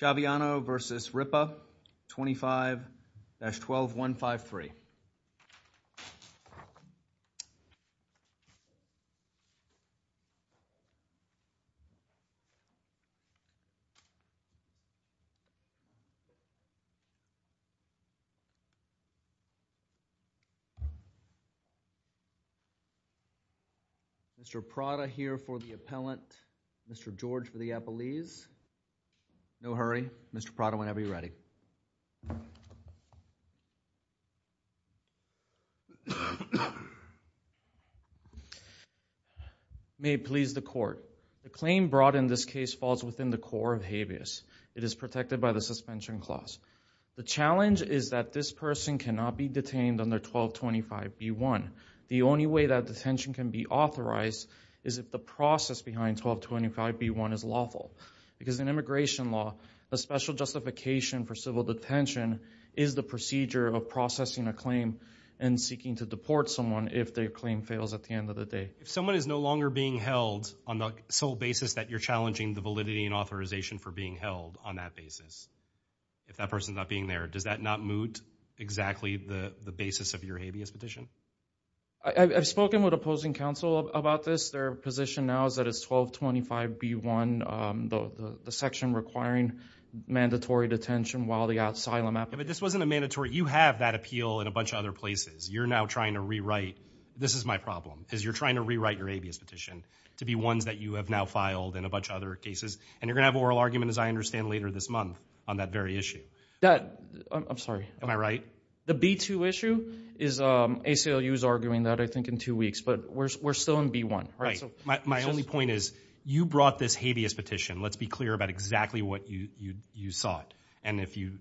Chaviano v. Ripa 25-12153 Mr. Prada here for the appellant, Mr. George for the appellees. No hurry. Mr. Prada, whenever you're ready. May it please the court, the claim brought in this case falls within the core of habeas. It is protected by the suspension clause. The challenge is that this person cannot be detained under 1225B1. The only way that detention can be authorized is if the process behind 1225B1 is lawful because in immigration law, a special justification for civil detention is the procedure of processing a claim and seeking to deport someone if their claim fails at the end of the day. If someone is no longer being held on the sole basis that you're challenging the validity and authorization for being held on that basis, if that person's not being there, does that not moot exactly the basis of your habeas petition? I've spoken with opposing counsel about this. Their position now is that it's 1225B1, the section requiring mandatory detention while the asylum applicant- But this wasn't a mandatory, you have that appeal in a bunch of other places. You're now trying to rewrite, this is my problem, is you're trying to rewrite your habeas petition to be ones that you have now filed in a bunch of other cases and you're going to have oral argument as I understand later this month on that very issue. I'm sorry. Am I right? The B2 issue, ACLU is arguing that I think in two weeks, but we're still in B1. My only point is you brought this habeas petition, let's be clear about exactly what you sought, and if you,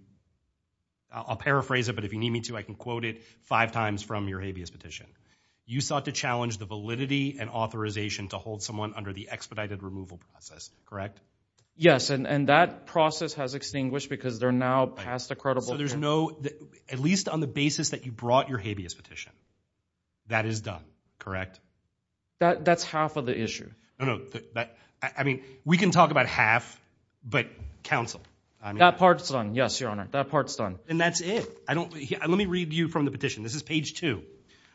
I'll paraphrase it, but if you need me to, I can quote it five times from your habeas petition. You sought to challenge the validity and authorization to hold someone under the expedited removal process, correct? Yes, and that process has extinguished because they're now past the credible- So there's no, at least on the basis that you brought your habeas petition, that is done, correct? That's half of the issue. No, no, I mean, we can talk about half, but counsel- That part's done, yes, your honor, that part's done. And that's it. I don't, let me read you from the petition. This is page two.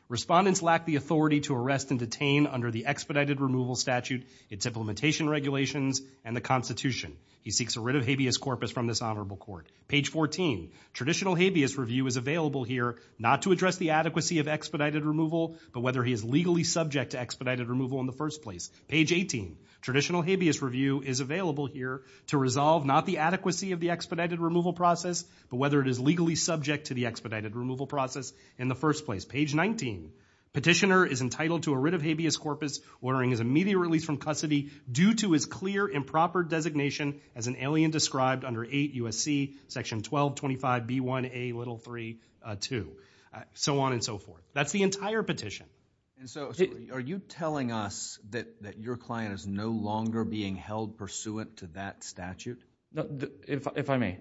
Respondents lack the authority to arrest and detain under the expedited removal statute, its implementation regulations, and the constitution. He seeks a writ of habeas corpus from this honorable court. Page 14, traditional habeas review is available here not to address the adequacy of expedited removal, but whether he is legally subject to expedited removal in the first place. Page 18, traditional habeas review is available here to resolve not the adequacy of the expedited removal process, but whether it is legally subject to the expedited removal process in the first place. Page 19, petitioner is entitled to a writ of habeas corpus ordering his immediate release from custody due to his clear improper designation as an alien described under 8 U.S.C. Section 1225B1A little 3, 2. So on and so forth. That's the entire petition. And so, are you telling us that your client is no longer being held pursuant to that statute? If I may.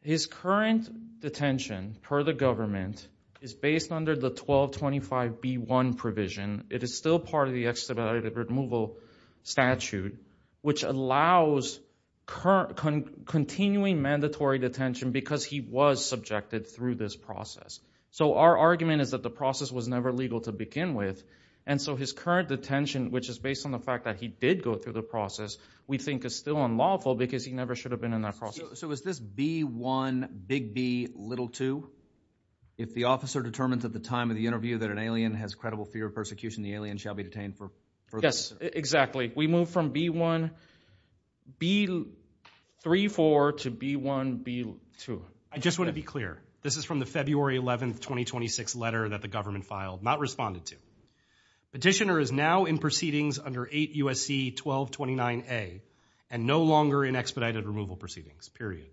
His current detention, per the government, is based under the 1225B1 provision. It is still part of the expedited removal statute, which allows continuing mandatory detention because he was subjected through this process. So our argument is that the process was never legal to begin with, and so his current detention, which is based on the fact that he did go through the process, we think is still unlawful because he never should have been in that process. So is this B1, big B, little 2? If the officer determines at the time of the interview that an alien has credible fear of persecution, the alien shall be detained for further. Yes, exactly. We move from B1, B34 to B1, B2. I just want to be clear. This is from the February 11th, 2026 letter that the government filed, not responded to. Petitioner is now in proceedings under 8 U.S.C. 1229A and no longer in expedited removal proceedings, period.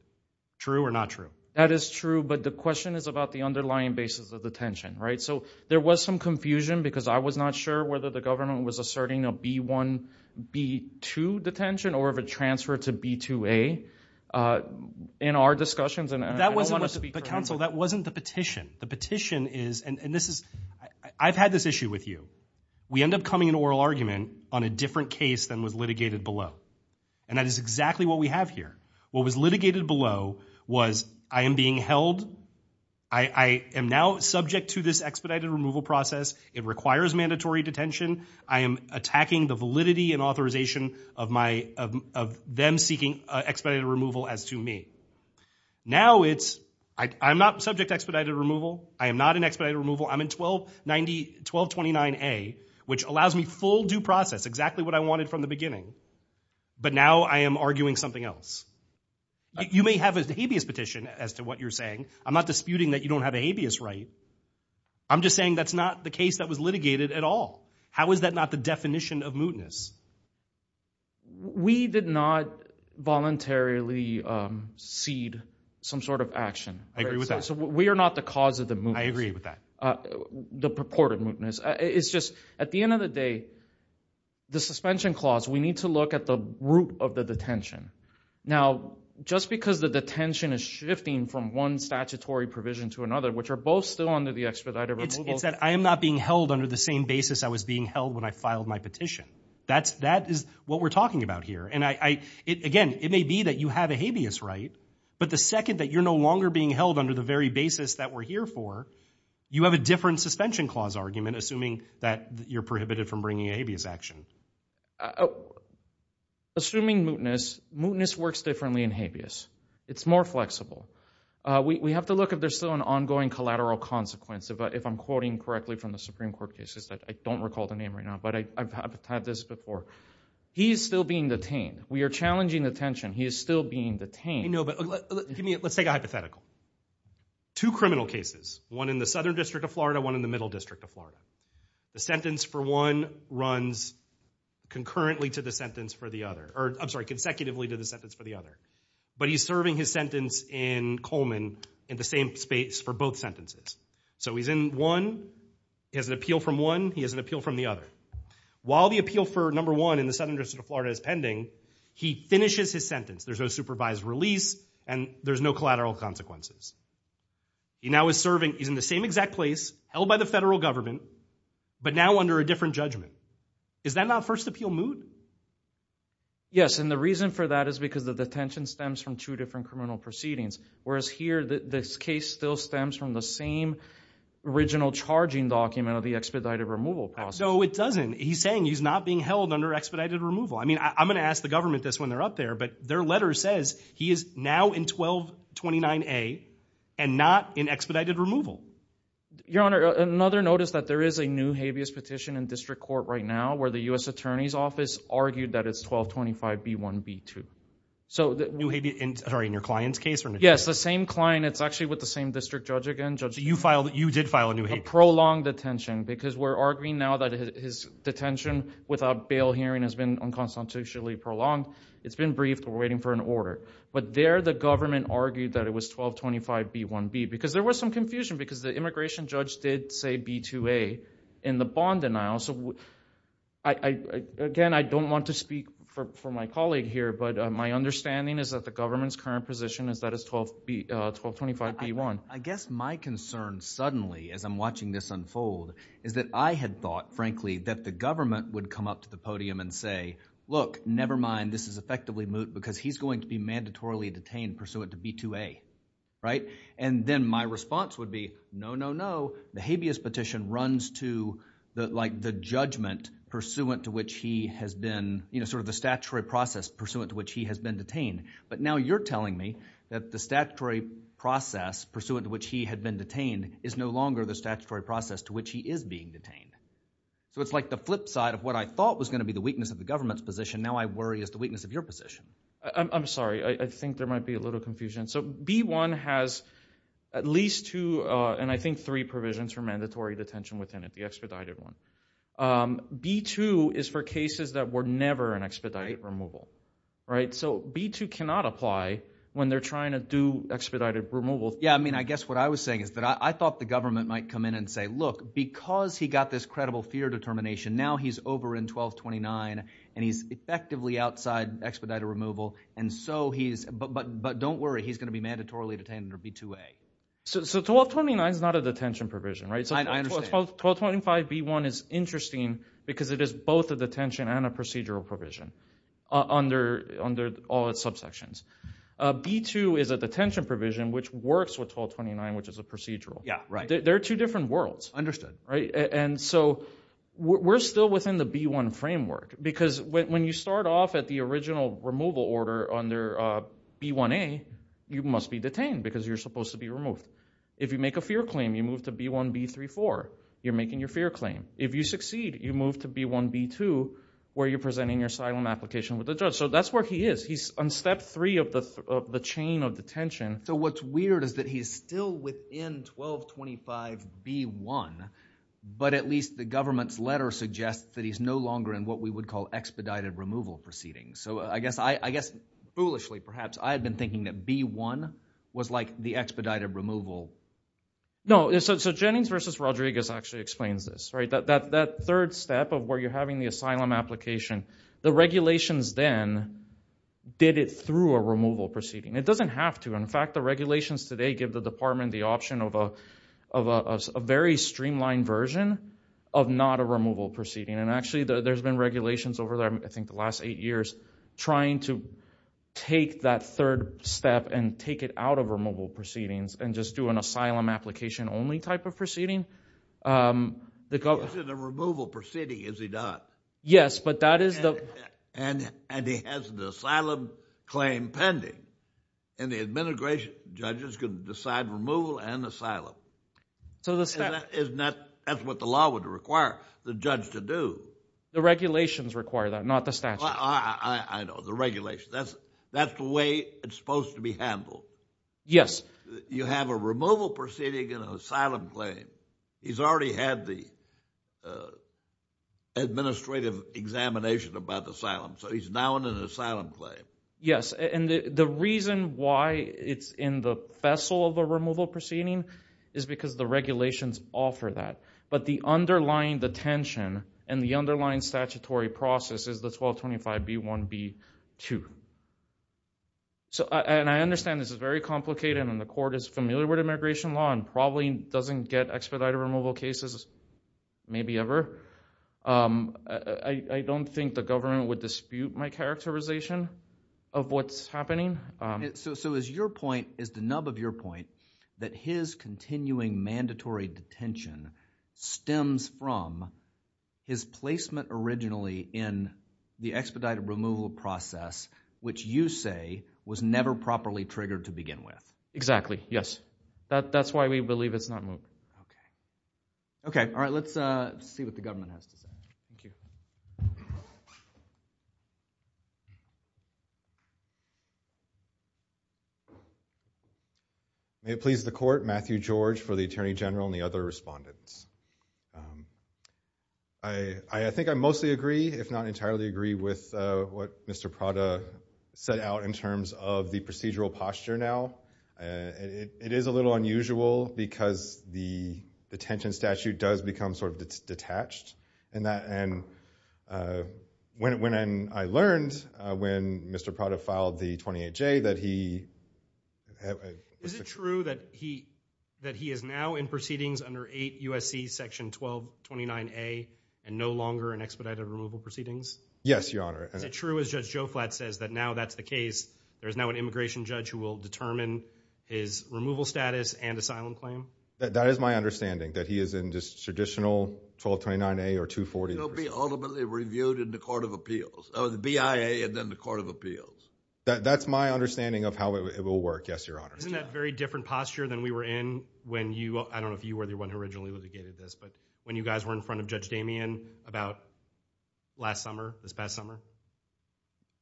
True or not true? That is true. But the question is about the underlying basis of detention, right? So there was some confusion because I was not sure whether the government was asserting a B1, B2 detention or if it transferred to B2A in our discussions. That wasn't the petition. The petition is, and this is, I've had this issue with you. We end up coming to an oral argument on a different case than was litigated below. And that is exactly what we have here. What was litigated below was I am being held. I am now subject to this expedited removal process. It requires mandatory detention. I am attacking the validity and authorization of my, of them seeking expedited removal as to me. Now it's, I'm not subject to expedited removal. I am not in expedited removal. I'm in 1290, 1229A, which allows me full due process, exactly what I wanted from the beginning. But now I am arguing something else. You may have a habeas petition as to what you're saying. I'm not disputing that you don't have a habeas right. I'm just saying that's not the case that was litigated at all. How is that not the definition of mootness? We did not voluntarily cede some sort of action. I agree with that. So we are not the cause of the mootness. I agree with that. The purported mootness. It's just, at the end of the day, the suspension clause, we need to look at the root of the detention. Now, just because the detention is shifting from one statutory provision to another, which are both still under the expedited removal. It's that I am not being held under the same basis I was being held when I filed my petition. That's, that is what we're talking about here. And I, it, again, it may be that you have a habeas right, but the second that you're no longer being held under the very basis that we're here for, you have a different suspension clause argument, assuming that you're prohibited from bringing a habeas action. Assuming mootness, mootness works differently in habeas. It's more flexible. We have to look if there's still an ongoing collateral consequence, if I'm quoting correctly from the Supreme Court cases. I don't recall the name right now, but I've had this before. He's still being detained. We are challenging the detention. He is still being detained. I know, but give me, let's take a hypothetical. Two criminal cases, one in the Southern District of Florida, one in the Middle District of Florida. The sentence for one runs concurrently to the sentence for the other, or I'm sorry, consecutively to the sentence for the other. But he's serving his sentence in Coleman in the same space for both sentences. So he's in one, he has an appeal from one, he has an appeal from the other. While the appeal for number one in the Southern District of Florida is pending, he finishes his sentence. There's no supervised release, and there's no collateral consequences. He now is serving, he's in the same exact place, held by the federal government, but now under a different judgment. Is that not first appeal moot? Yes, and the reason for that is because the detention stems from two different criminal proceedings, whereas here, this case still stems from the same original charging document of the expedited removal process. No, it doesn't. He's saying he's not being held under expedited removal. I'm going to ask the government this when they're up there, but their letter says he is now in 1229A and not in expedited removal. Your Honor, another notice that there is a new habeas petition in district court right now where the U.S. Attorney's Office argued that it's 1225B1B2. So in your client's case? Yes, the same client, it's actually with the same district judge again. You did file a new habeas? A prolonged detention, because we're arguing now that his detention without bail hearing has been unconstitutionally prolonged. It's been briefed. We're waiting for an order. But there, the government argued that it was 1225B1B, because there was some confusion because the immigration judge did say B2A in the bond denial, so again, I don't want to speak for my colleague here, but my understanding is that the government's current position is that it's 1225B1. I guess my concern suddenly, as I'm watching this unfold, is that I had thought, frankly, that the government would come up to the podium and say, look, never mind, this is effectively moot because he's going to be mandatorily detained pursuant to B2A, right? And then my response would be, no, no, no, the habeas petition runs to the judgment pursuant to which he has been, you know, sort of the statutory process pursuant to which he has been detained. But now you're telling me that the statutory process pursuant to which he had been detained is no longer the statutory process to which he is being detained. So it's like the flip side of what I thought was going to be the weakness of the government's position, now I worry is the weakness of your position. I'm sorry, I think there might be a little confusion. So B1 has at least two, and I think three provisions for mandatory detention within it, the expedited one. B2 is for cases that were never an expedited removal, right? So B2 cannot apply when they're trying to do expedited removal. Yeah, I mean, I guess what I was saying is that I thought the government might come in and say, look, because he got this credible fear determination, now he's over in 1229 and he's effectively outside expedited removal, and so he's, but don't worry, he's going to be mandatorily detained under B2A. So 1229 is not a detention provision, right? I understand. So 1225B1 is interesting because it is both a detention and a procedural provision under all its subsections. B2 is a detention provision which works with 1229, which is a procedural. Yeah, right. They're two different worlds. Right? And so we're still within the B1 framework because when you start off at the original removal order under B1A, you must be detained because you're supposed to be removed. If you make a fear claim, you move to B1B34, you're making your fear claim. If you succeed, you move to B1B2 where you're presenting your asylum application with the judge. So that's where he is. He's on step three of the chain of detention. So what's weird is that he's still within 1225B1, but at least the government's letter suggests that he's no longer in what we would call expedited removal proceedings. So I guess, I guess foolishly perhaps, I had been thinking that B1 was like the expedited removal. No, so Jennings versus Rodriguez actually explains this, right? That third step of where you're having the asylum application, the regulations then did it through a removal proceeding. It doesn't have to. In fact, the regulations today give the department the option of a very streamlined version of not a removal proceeding. And actually, there's been regulations over there, I think the last eight years, trying to take that third step and take it out of removal proceedings and just do an asylum application only type of proceeding. The government- Is it a removal proceeding? Is it not? Yes, but that is the- And he has an asylum claim pending. And the administration judges can decide removal and asylum. So the statute- Isn't that, that's what the law would require the judge to do. The regulations require that, not the statute. I know, the regulation. That's the way it's supposed to be handled. Yes. You have a removal proceeding and an asylum claim. He's already had the administrative examination about the asylum, so he's now in an asylum claim. Yes. And the reason why it's in the vessel of a removal proceeding is because the regulations offer that. But the underlying detention and the underlying statutory process is the 1225B1B2. So and I understand this is very complicated and the court is familiar with immigration law and probably doesn't get expedited removal cases, maybe ever. I don't think the government would dispute my characterization of what's happening. So is your point, is the nub of your point that his continuing mandatory detention stems from his placement originally in the expedited removal process, which you say was never properly triggered to begin with? Exactly. Exactly. Yes. That's why we believe it's not moved. Okay. All right. Let's see what the government has to say. Thank you. May it please the court, Matthew George for the Attorney General and the other respondents. I think I mostly agree, if not entirely agree, with what Mr. Prada set out in terms of the procedural posture now. It is a little unusual because the detention statute does become sort of detached. And when I learned when Mr. Prada filed the 28J that he... Is it true that he is now in proceedings under 8 U.S.C. section 1229A and no longer in expedited removal proceedings? Yes, Your Honor. Is it true, as Judge Joe Flatt says, that now that's the case, there's now an immigration judge who will determine his removal status and asylum claim? That is my understanding, that he is in just traditional 1229A or 240. He'll be ultimately reviewed in the Court of Appeals, the BIA and then the Court of Appeals. That's my understanding of how it will work, yes, Your Honor. Isn't that a very different posture than we were in when you, I don't know if you were the one who originally litigated this, but when you guys were in front of Judge Damien about last summer, this past summer?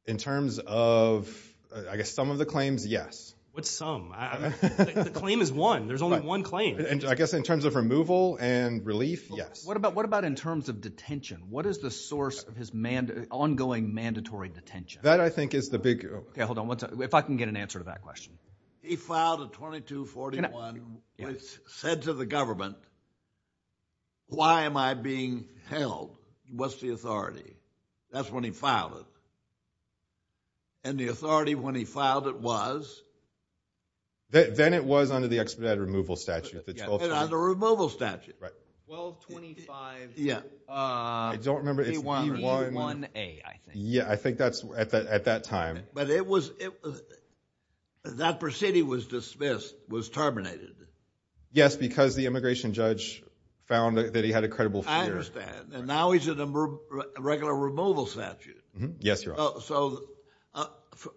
In terms of, I guess, some of the claims, yes. What's some? The claim is one. There's only one claim. I guess in terms of removal and relief, yes. What about in terms of detention? What is the source of his ongoing mandatory detention? That I think is the big... Okay, hold on. If I can get an answer to that question. He filed a 2241, which said to the government, why am I being held? What's the authority? That's when he filed it. And the authority when he filed it was? Then it was under the expedited removal statute. It's 1225. Under removal statute. 1225. Yeah. I don't remember. 31A, I think. Yeah, I think that's at that time. But it was, that proceeding was dismissed, was terminated. Yes, because the immigration judge found that he had a credible fear. I understand. And now he's in a regular removal statute. Yes, Your Honor. So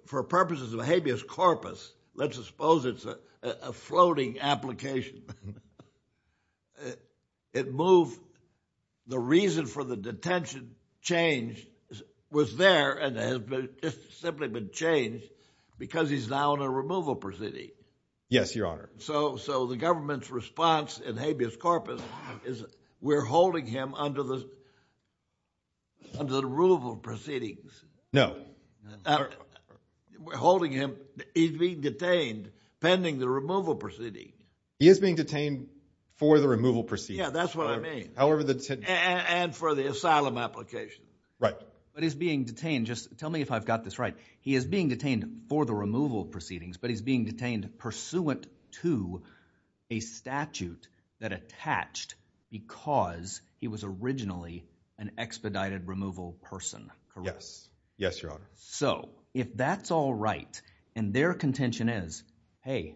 for purposes of habeas corpus, let's suppose it's a floating application. It moved, the reason for the detention change was there, and it's simply been changed because he's now in a removal proceeding. Yes, Your Honor. So the government's response in habeas corpus is we're holding him under the, under the removal proceedings. No. We're holding him, he's being detained pending the removal proceeding. He is being detained for the removal proceedings. Yeah, that's what I mean. However the... And for the asylum application. Right. But he's being detained, just tell me if I've got this right, he is being detained for the removal proceedings, but he's being detained pursuant to a statute that attached because he was originally an expedited removal person. Correct? Yes, Your Honor. So if that's all right, and their contention is, hey,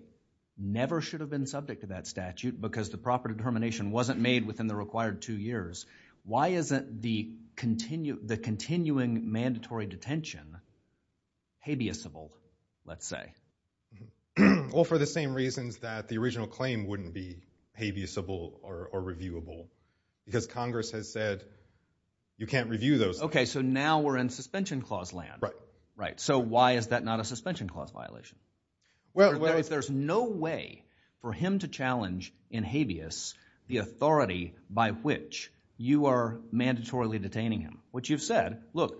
never should have been subject to that statute because the proper determination wasn't made within the required two years, why isn't the continuing mandatory detention habeas-able, let's say? Well, for the same reasons that the original claim wouldn't be habeas-able or reviewable, because Congress has said you can't review those. Okay, so now we're in suspension clause land. Right. So why is that not a suspension clause violation? Well, if there's no way for him to challenge in habeas the authority by which you are mandatorily detaining him, which you've said, look,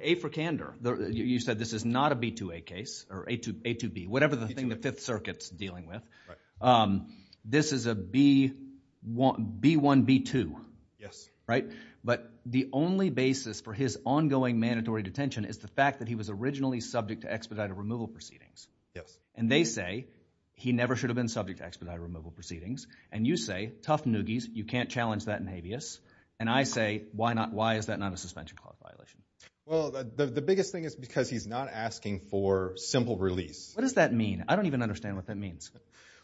A for candor, you said this is not a B2A case or A2B, whatever the thing the Fifth Circuit's dealing with. This is a B1B2, right? But the only basis for his ongoing mandatory detention is the fact that he was originally subject to expedited removal proceedings. And they say he never should have been subject to expedited removal proceedings. And you say, tough noogies, you can't challenge that in habeas. And I say, why is that not a suspension clause violation? Well, the biggest thing is because he's not asking for simple release. What does that mean? I don't even understand what that means.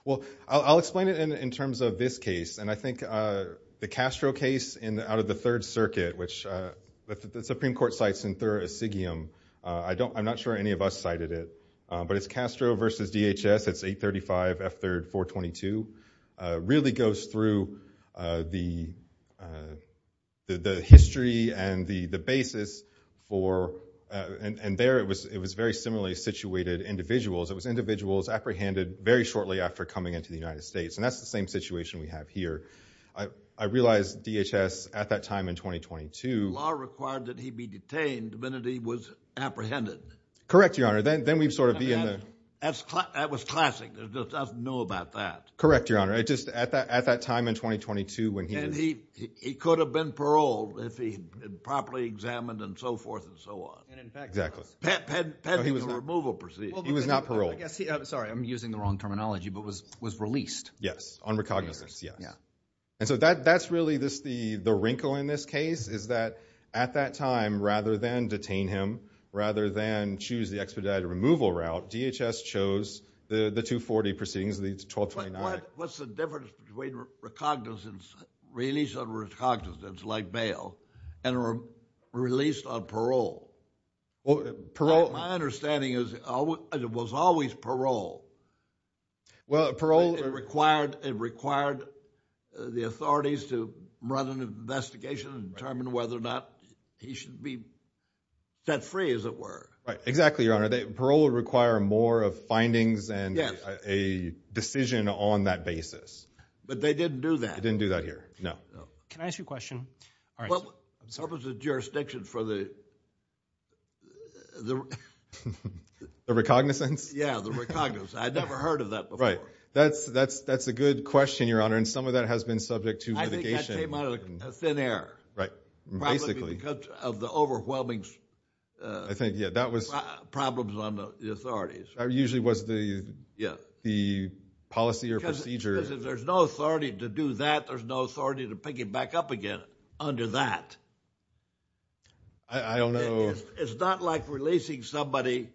Well, I'll explain it in terms of this case. And I think the Castro case out of the Third Circuit, which the Supreme Court cites in I'm not sure any of us cited it, but it's Castro versus DHS, it's 835 F3rd 422, really goes through the history and the basis for, and there it was very similarly situated individuals. It was individuals apprehended very shortly after coming into the United States. And that's the same situation we have here. I realized DHS at that time in 2022- Law required that he be detained the minute he was apprehended. Correct, Your Honor. Then we'd sort of be in the- That was classic. There's just nothing new about that. Correct, Your Honor. Just at that time in 2022 when he was- And he could have been paroled if he had been properly examined and so forth and so on. And in fact- Exactly. Pending the removal proceedings. He was not paroled. Sorry, I'm using the wrong terminology, but was released. Yes, on recognizance. And so that's really the wrinkle in this case is that at that time, rather than detain him, rather than choose the expedited removal route, DHS chose the 240 proceedings, the 1229- What's the difference between release on recognizance like bail and released on parole? My understanding is it was always parole. Well, parole- It required the authorities to run an investigation and determine whether or not he should be set free, as it were. Right, exactly, Your Honor. Parole would require more of findings and a decision on that basis. But they didn't do that. They didn't do that here. No. Can I ask you a question? What was the jurisdiction for the- The recognizance? Yeah, the recognizance. I'd never heard of that before. That's a good question, Your Honor. And some of that has been subject to litigation. I think that came out of thin air. Right, basically. Probably because of the overwhelming problems on the authorities. That usually was the policy or procedure. Because if there's no authority to do that, there's no authority to pick it back up again under that. I don't know- It's not like releasing somebody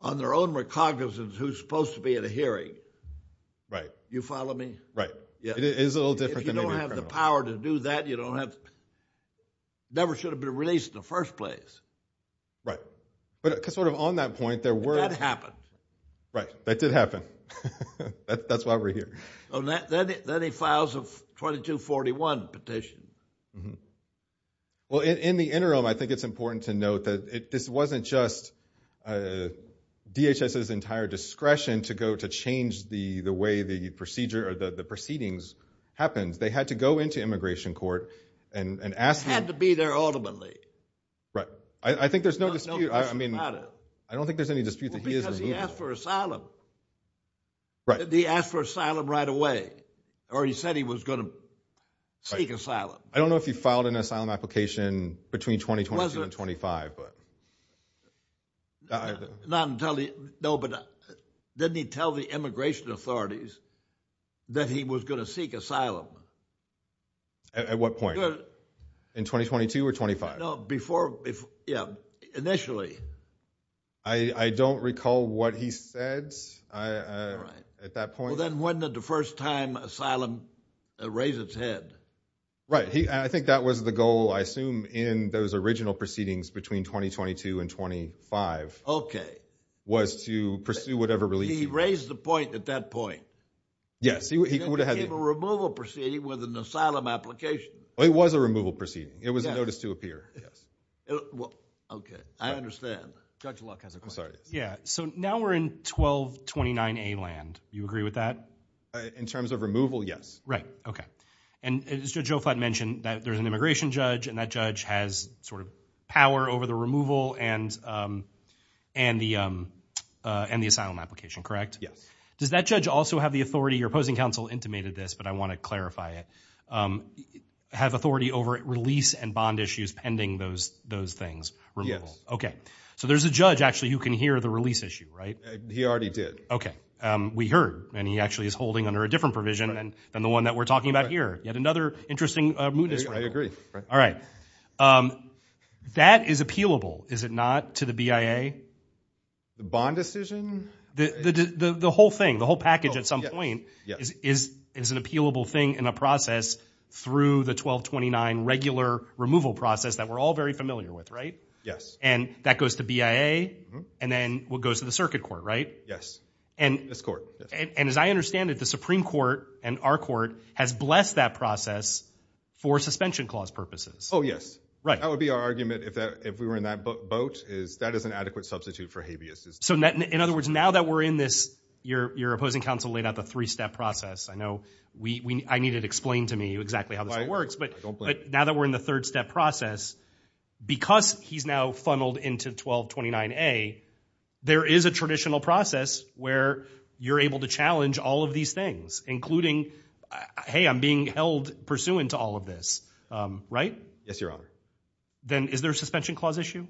on their own recognizance who's supposed to be at a hearing. Right. You follow me? Right. It is a little different than maybe a criminal. If you don't have the power to do that, you don't have- never should have been released in the first place. Right. But because sort of on that point, there were- That happened. Right, that did happen. That's why we're here. Then he files a 2241 petition. Well, in the interim, I think it's important to note that this wasn't just a DHS's entire discretion to go to change the way the procedure or the proceedings happened. They had to go into immigration court and ask- Had to be there ultimately. Right. I think there's no dispute. I mean, I don't think there's any dispute that he is- Because he asked for asylum. Right. He asked for asylum right away. Or he said he was going to seek asylum. I don't know if he filed an asylum application between 2022 and 2025. Not until he- No, but didn't he tell the immigration authorities that he was going to seek asylum? At what point? In 2022 or 2025? No, before- Yeah, initially. I don't recall what he said at that point. Well, then when did the first time asylum raise its head? Right. I think that was the goal, I assume, in those original proceedings between 2022 and 2025. Okay. Was to pursue whatever relief- He raised the point at that point. Yes, he would have- It became a removal proceeding with an asylum application. Well, it was a removal proceeding. It was a notice to appear, yes. Okay. I understand. Judge Luck has a question. I'm sorry. Yeah. So now we're in 1229A land. Do you agree with that? In terms of removal, yes. Right. Okay. And as Judge O'Fladd mentioned, there's an immigration judge and that judge has power over the removal and the asylum application, correct? Yes. Does that judge also have the authority- your opposing counsel intimated this, but I want to clarify it- have authority over release and bond issues pending those things? Yes. Okay. So there's a judge, actually, who can hear the release issue, right? He already did. Okay. We heard. And he actually is holding under a different provision than the one that we're talking about here. Yet another interesting mootness- I agree. All right. That is appealable, is it not, to the BIA? The bond decision? The whole thing. The whole package at some point is an appealable thing in a process through the 1229 regular removal process that we're all very familiar with, right? Yes. And that goes to BIA and then what goes to the circuit court, right? Yes. And- This court. And as I understand it, the Supreme Court and our court has blessed that process for suspension clause purposes. Oh, yes. Right. That would be our argument if we were in that boat, is that is an adequate substitute for habeas. So in other words, now that we're in this, your opposing counsel laid out the three-step process. I know I need it explained to me exactly how this works, but now that we're in the third step process, because he's now funneled into 1229A, there is a traditional process where you're able to challenge all of these things, including, hey, I'm being held pursuant to all of this, right? Yes, Your Honor. Then is there a suspension clause issue?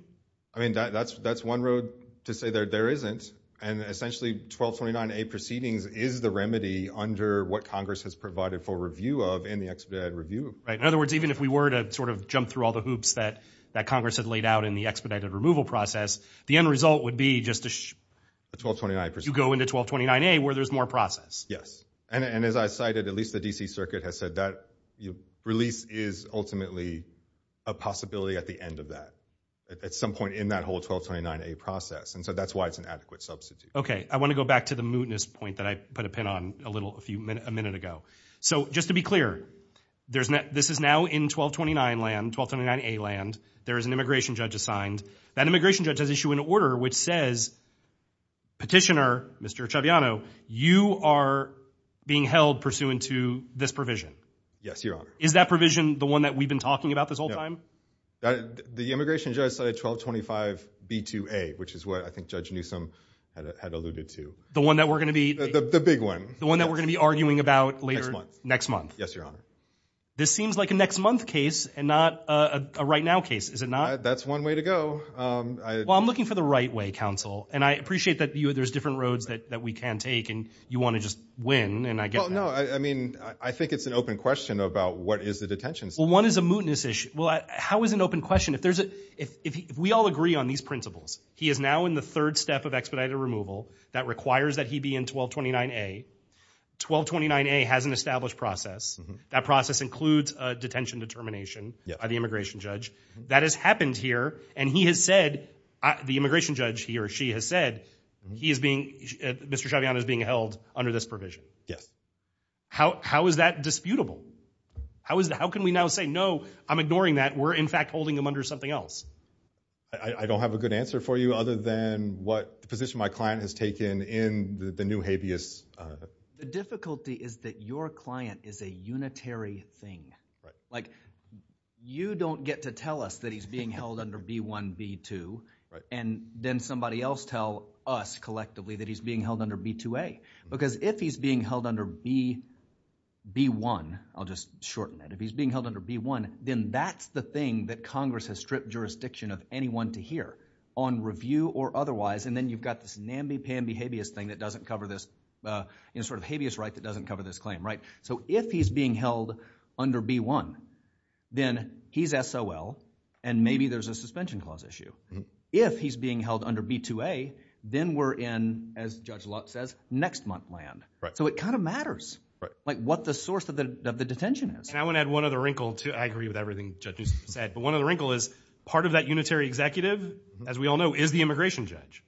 I mean, that's one road to say that there isn't. And essentially, 1229A proceedings is the remedy under what Congress has provided for review of in the expedited review. Right. In other words, even if we were to sort of jump through all the hoops that Congress had laid out in the expedited removal process, the end result would be just to- The 1229A. You go into 1229A where there's more process. Yes. And as I cited, at least the D.C. Circuit has said that release is ultimately a possibility at the end of that, at some point in that whole 1229A process. And so that's why it's an adequate substitute. Okay. I want to go back to the mootness point that I put a pin on a minute ago. So just to be clear, this is now in 1229 land, 1229A land. There is an immigration judge assigned. That immigration judge has issued an order which says, petitioner, Mr. Echaviano, you are being held pursuant to this provision. Yes, your honor. Is that provision the one that we've been talking about this whole time? The immigration judge cited 1225B2A, which is what I think Judge Newsom had alluded to. The one that we're going to be- The big one. The one that we're going to be arguing about later- Next month. Yes, your honor. This seems like a next month case and not a right now case. Is it not? That's one way to go. Well, I'm looking for the right way, counsel. And I appreciate that there's different roads that we can take and you want to just win. And I get that. No, I mean, I think it's an open question about what is the detention system. Well, one is a mootness issue. Well, how is it an open question? If we all agree on these principles, he is now in the third step of expedited removal that requires that he be in 1229A. 1229A has an established process. That process includes a detention determination by the immigration judge. That has happened here. And he has said, the immigration judge, he or she has said, he is being- Mr. Chaviana is being held under this provision. Yes. How is that disputable? How is that? How can we now say, no, I'm ignoring that. We're, in fact, holding them under something else. I don't have a good answer for you other than what the position my client has taken in the new habeas. The difficulty is that your client is a unitary thing. Like, you don't get to tell us that he's being held under B1, B2. And then somebody else tell us collectively that he's being held under B2A. Because if he's being held under B1, I'll just shorten that. If he's being held under B1, then that's the thing that Congress has stripped jurisdiction of anyone to hear on review or otherwise. And then you've got this namby-pamby habeas thing that doesn't cover this, you know, sort of habeas right that doesn't cover this claim, right? So if he's being held under B1, then he's SOL and maybe there's a suspension clause issue. If he's being held under B2A, then we're in, as Judge Lott says, next month land. So it kind of matters, like what the source of the detention is. And I want to add one other wrinkle too. I agree with everything Judge Newsom said. But one of the wrinkle is part of that unitary executive, as we all know, is the immigration judge.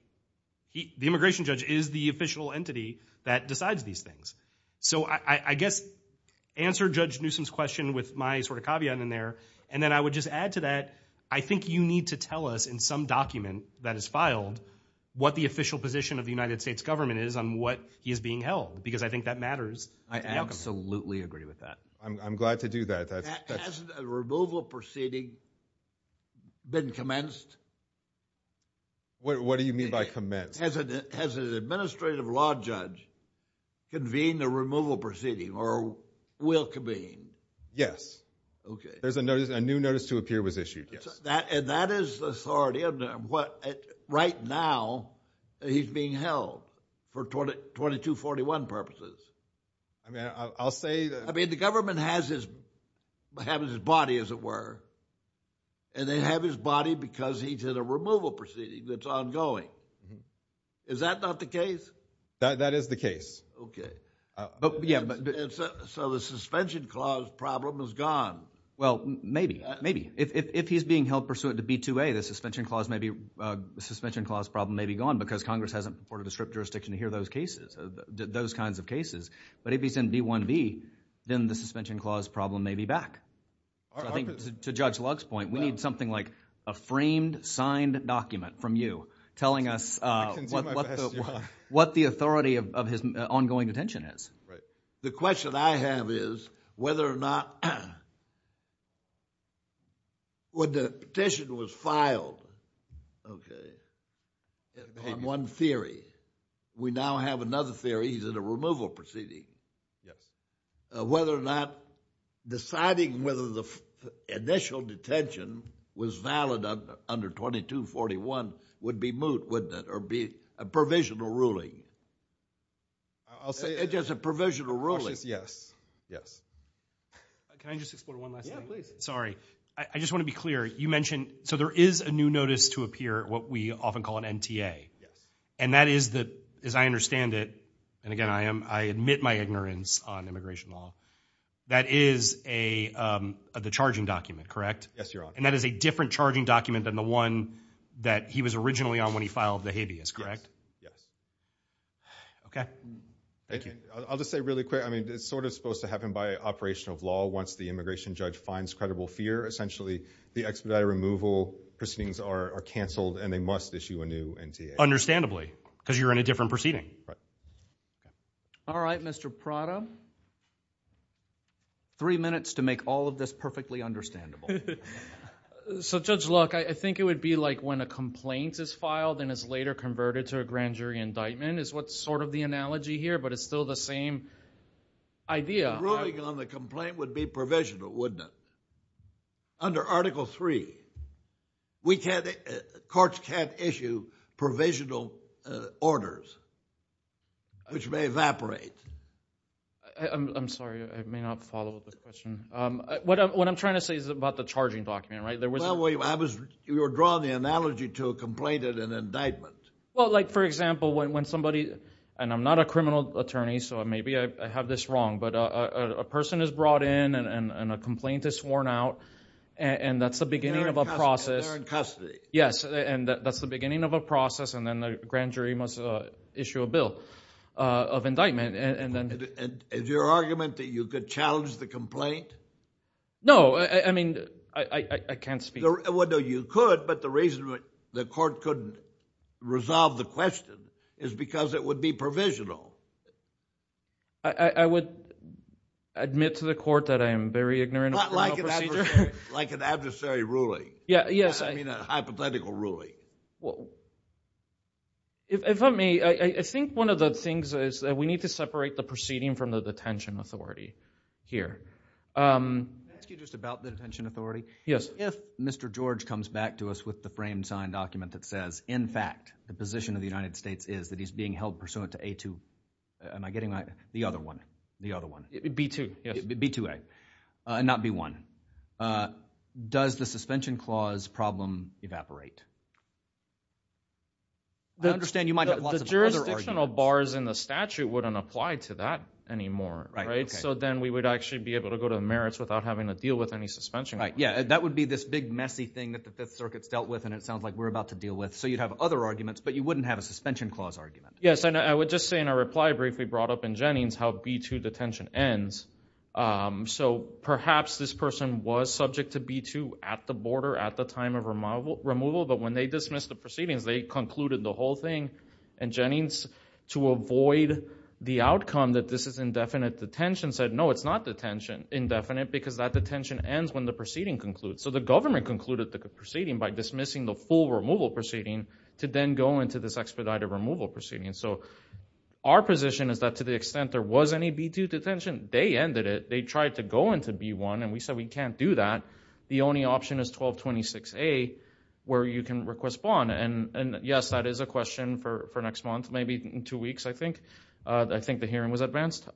The immigration judge is the official entity that decides these things. So I guess answer Judge Newsom's question with my sort of caveat in there. And then I would just add to that, I think you need to tell us in some document that is filed what the official position of the United States government is on what is being held. Because I think that matters. I absolutely agree with that. I'm glad to do that. Has a removal proceeding been commenced? What do you mean by commenced? Has an administrative law judge convened a removal proceeding or will convene? Yes. There's a notice. A new notice to appear was issued. And that is the authority. Right now, he's being held for 2241 purposes. I mean, the government has his body, as it were. And they have his body because he did a removal proceeding that's ongoing. Is that not the case? That is the case. So the suspension clause problem is gone. Well, maybe. Maybe. If he's being held pursuant to B2A, the suspension clause problem may be gone because Congress hasn't reported a stripped jurisdiction to hear those cases, those kinds of cases. But if he's in B1B, then the suspension clause problem may be back. I think to Judge Lugg's point, we need something like a framed, signed document from you telling us what the authority of his ongoing detention is. Right. The question I have is whether or not... When the petition was filed, okay, on one theory, we now have another theory. He's in a removal proceeding. Whether or not deciding whether the initial detention was valid under 2241 would be moot. Or be a provisional ruling. I'll say it as a provisional ruling. Yes. Can I just explore one last thing? I just want to be clear. You mentioned... So there is a new notice to appear, what we often call an NTA. And that is the... As I understand it, and again, I admit my ignorance on immigration law, that is the charging document, correct? Yes, Your Honor. And that is a different charging document than the one that he was originally on when he filed the habeas, correct? Okay. I'll just say really quick, I mean, it's sort of supposed to happen by operation of law once the immigration judge finds credible fear. Essentially, the expedited removal proceedings are canceled and they must issue a new NTA. Understandably, because you're in a different proceeding. All right, Mr. Prada. Three minutes to make all of this perfectly understandable. Okay. So Judge Luck, I think it would be like when a complaint is filed and is later converted to a grand jury indictment is what's sort of the analogy here, but it's still the same idea. Ruling on the complaint would be provisional, wouldn't it? Under Article III, courts can't issue provisional orders, which may evaporate. I'm sorry, I may not follow the question. What I'm trying to say is about the charging document, right? You're drawing the analogy to a complaint and an indictment. Well, like for example, when somebody, and I'm not a criminal attorney, so maybe I have this wrong, but a person is brought in and a complaint is sworn out and that's the beginning of a process. They're in custody. Yes, and that's the beginning of a process and then the grand jury must issue a bill of indictment. And is your argument that you could challenge the complaint? No, I mean, I can't speak. Well, no, you could, but the reason the court couldn't resolve the question is because it would be provisional. I would admit to the court that I am very ignorant of criminal procedure. Like an adversary ruling. Yeah, yes. I mean, a hypothetical ruling. Well, if I may, I think one of the things is that we need to separate the proceeding from the detention authority here. Can I ask you just about the detention authority? Yes. If Mr. George comes back to us with the framed signed document that says, in fact, the position of the United States is that he's being held pursuant to A2, am I getting that? The other one, the other one. B2, yes. B2A, not B1. Does the suspension clause problem evaporate? I understand you might have lots of other arguments. The jurisdictional bars in the statute wouldn't apply to that anymore, right? So then we would actually be able to go to the merits without having to deal with any suspension. Right, yeah. That would be this big messy thing that the Fifth Circuit's dealt with, and it sounds like we're about to deal with. So you'd have other arguments, but you wouldn't have a suspension clause argument. Yes, and I would just say in a reply briefly brought up in Jennings how B2 detention ends. So perhaps this person was subject to B2 at the border at the time of removal, but when they dismissed the proceedings, they concluded the whole thing. And Jennings, to avoid the outcome that this is indefinite detention, said no, it's not detention indefinite, because that detention ends when the proceeding concludes. So the government concluded the proceeding by dismissing the full removal proceeding to then go into this expedited removal proceeding. So our position is that to the extent there was any B2 detention, they ended it. They tried to go into B1, and we said we can't do that. The only option is 1226A, where you can request bond. And yes, that is a question for next month, maybe in two weeks, I think. I think the hearing was advanced.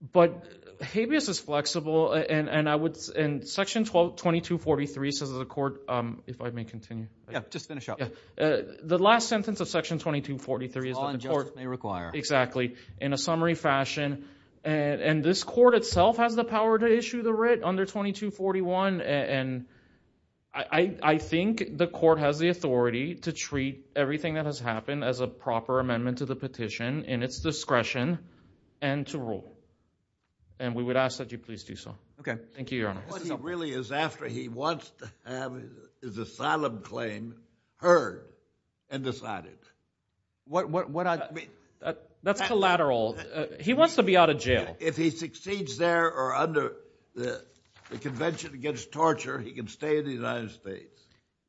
But habeas is flexible, and I would... And section 2243 says the court, if I may continue. Yeah, just finish up. The last sentence of section 2243 is that the court... All injustice may require. Exactly. In a summary fashion, and this court itself has the power to issue the writ under 2241. And I think the court has the authority to treat everything that has happened as a proper amendment to the petition in its discretion and to rule. And we would ask that you please do so. Okay. Thank you, Your Honor. What he really is after, he wants to have his asylum claim heard and decided. What I... That's collateral. He wants to be out of jail. If he succeeds there or under the Convention Against Torture, he can stay in the United States.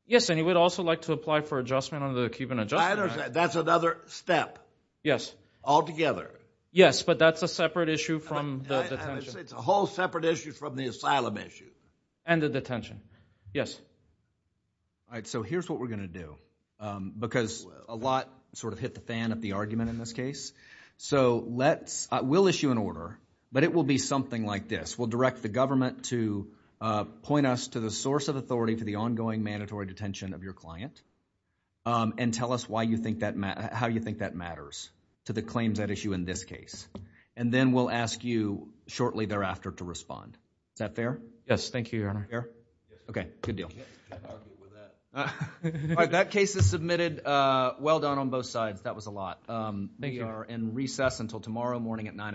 Yes, and he would also like to apply for adjustment under the Cuban Adjustment Act. That's another step. Yes. Altogether. Yes, but that's a separate issue from the detention. It's a whole separate issue from the asylum issue. And the detention. Yes. All right, so here's what we're going to do, because a lot sort of hit the fan of the argument in this case. So let's... We'll issue an order, but it will be something like this. We'll direct the government to point us to the source of authority to the ongoing mandatory detention of your client. And tell us why you think that matters, how you think that matters to the claims at issue in this case. And then we'll ask you shortly thereafter to respond. Is that fair? Yes. Thank you, Your Honor. Fair? Okay, good deal. All right, that case is submitted. Well done on both sides. That was a lot. Thank you. We are in recess until tomorrow morning at 9 a.m.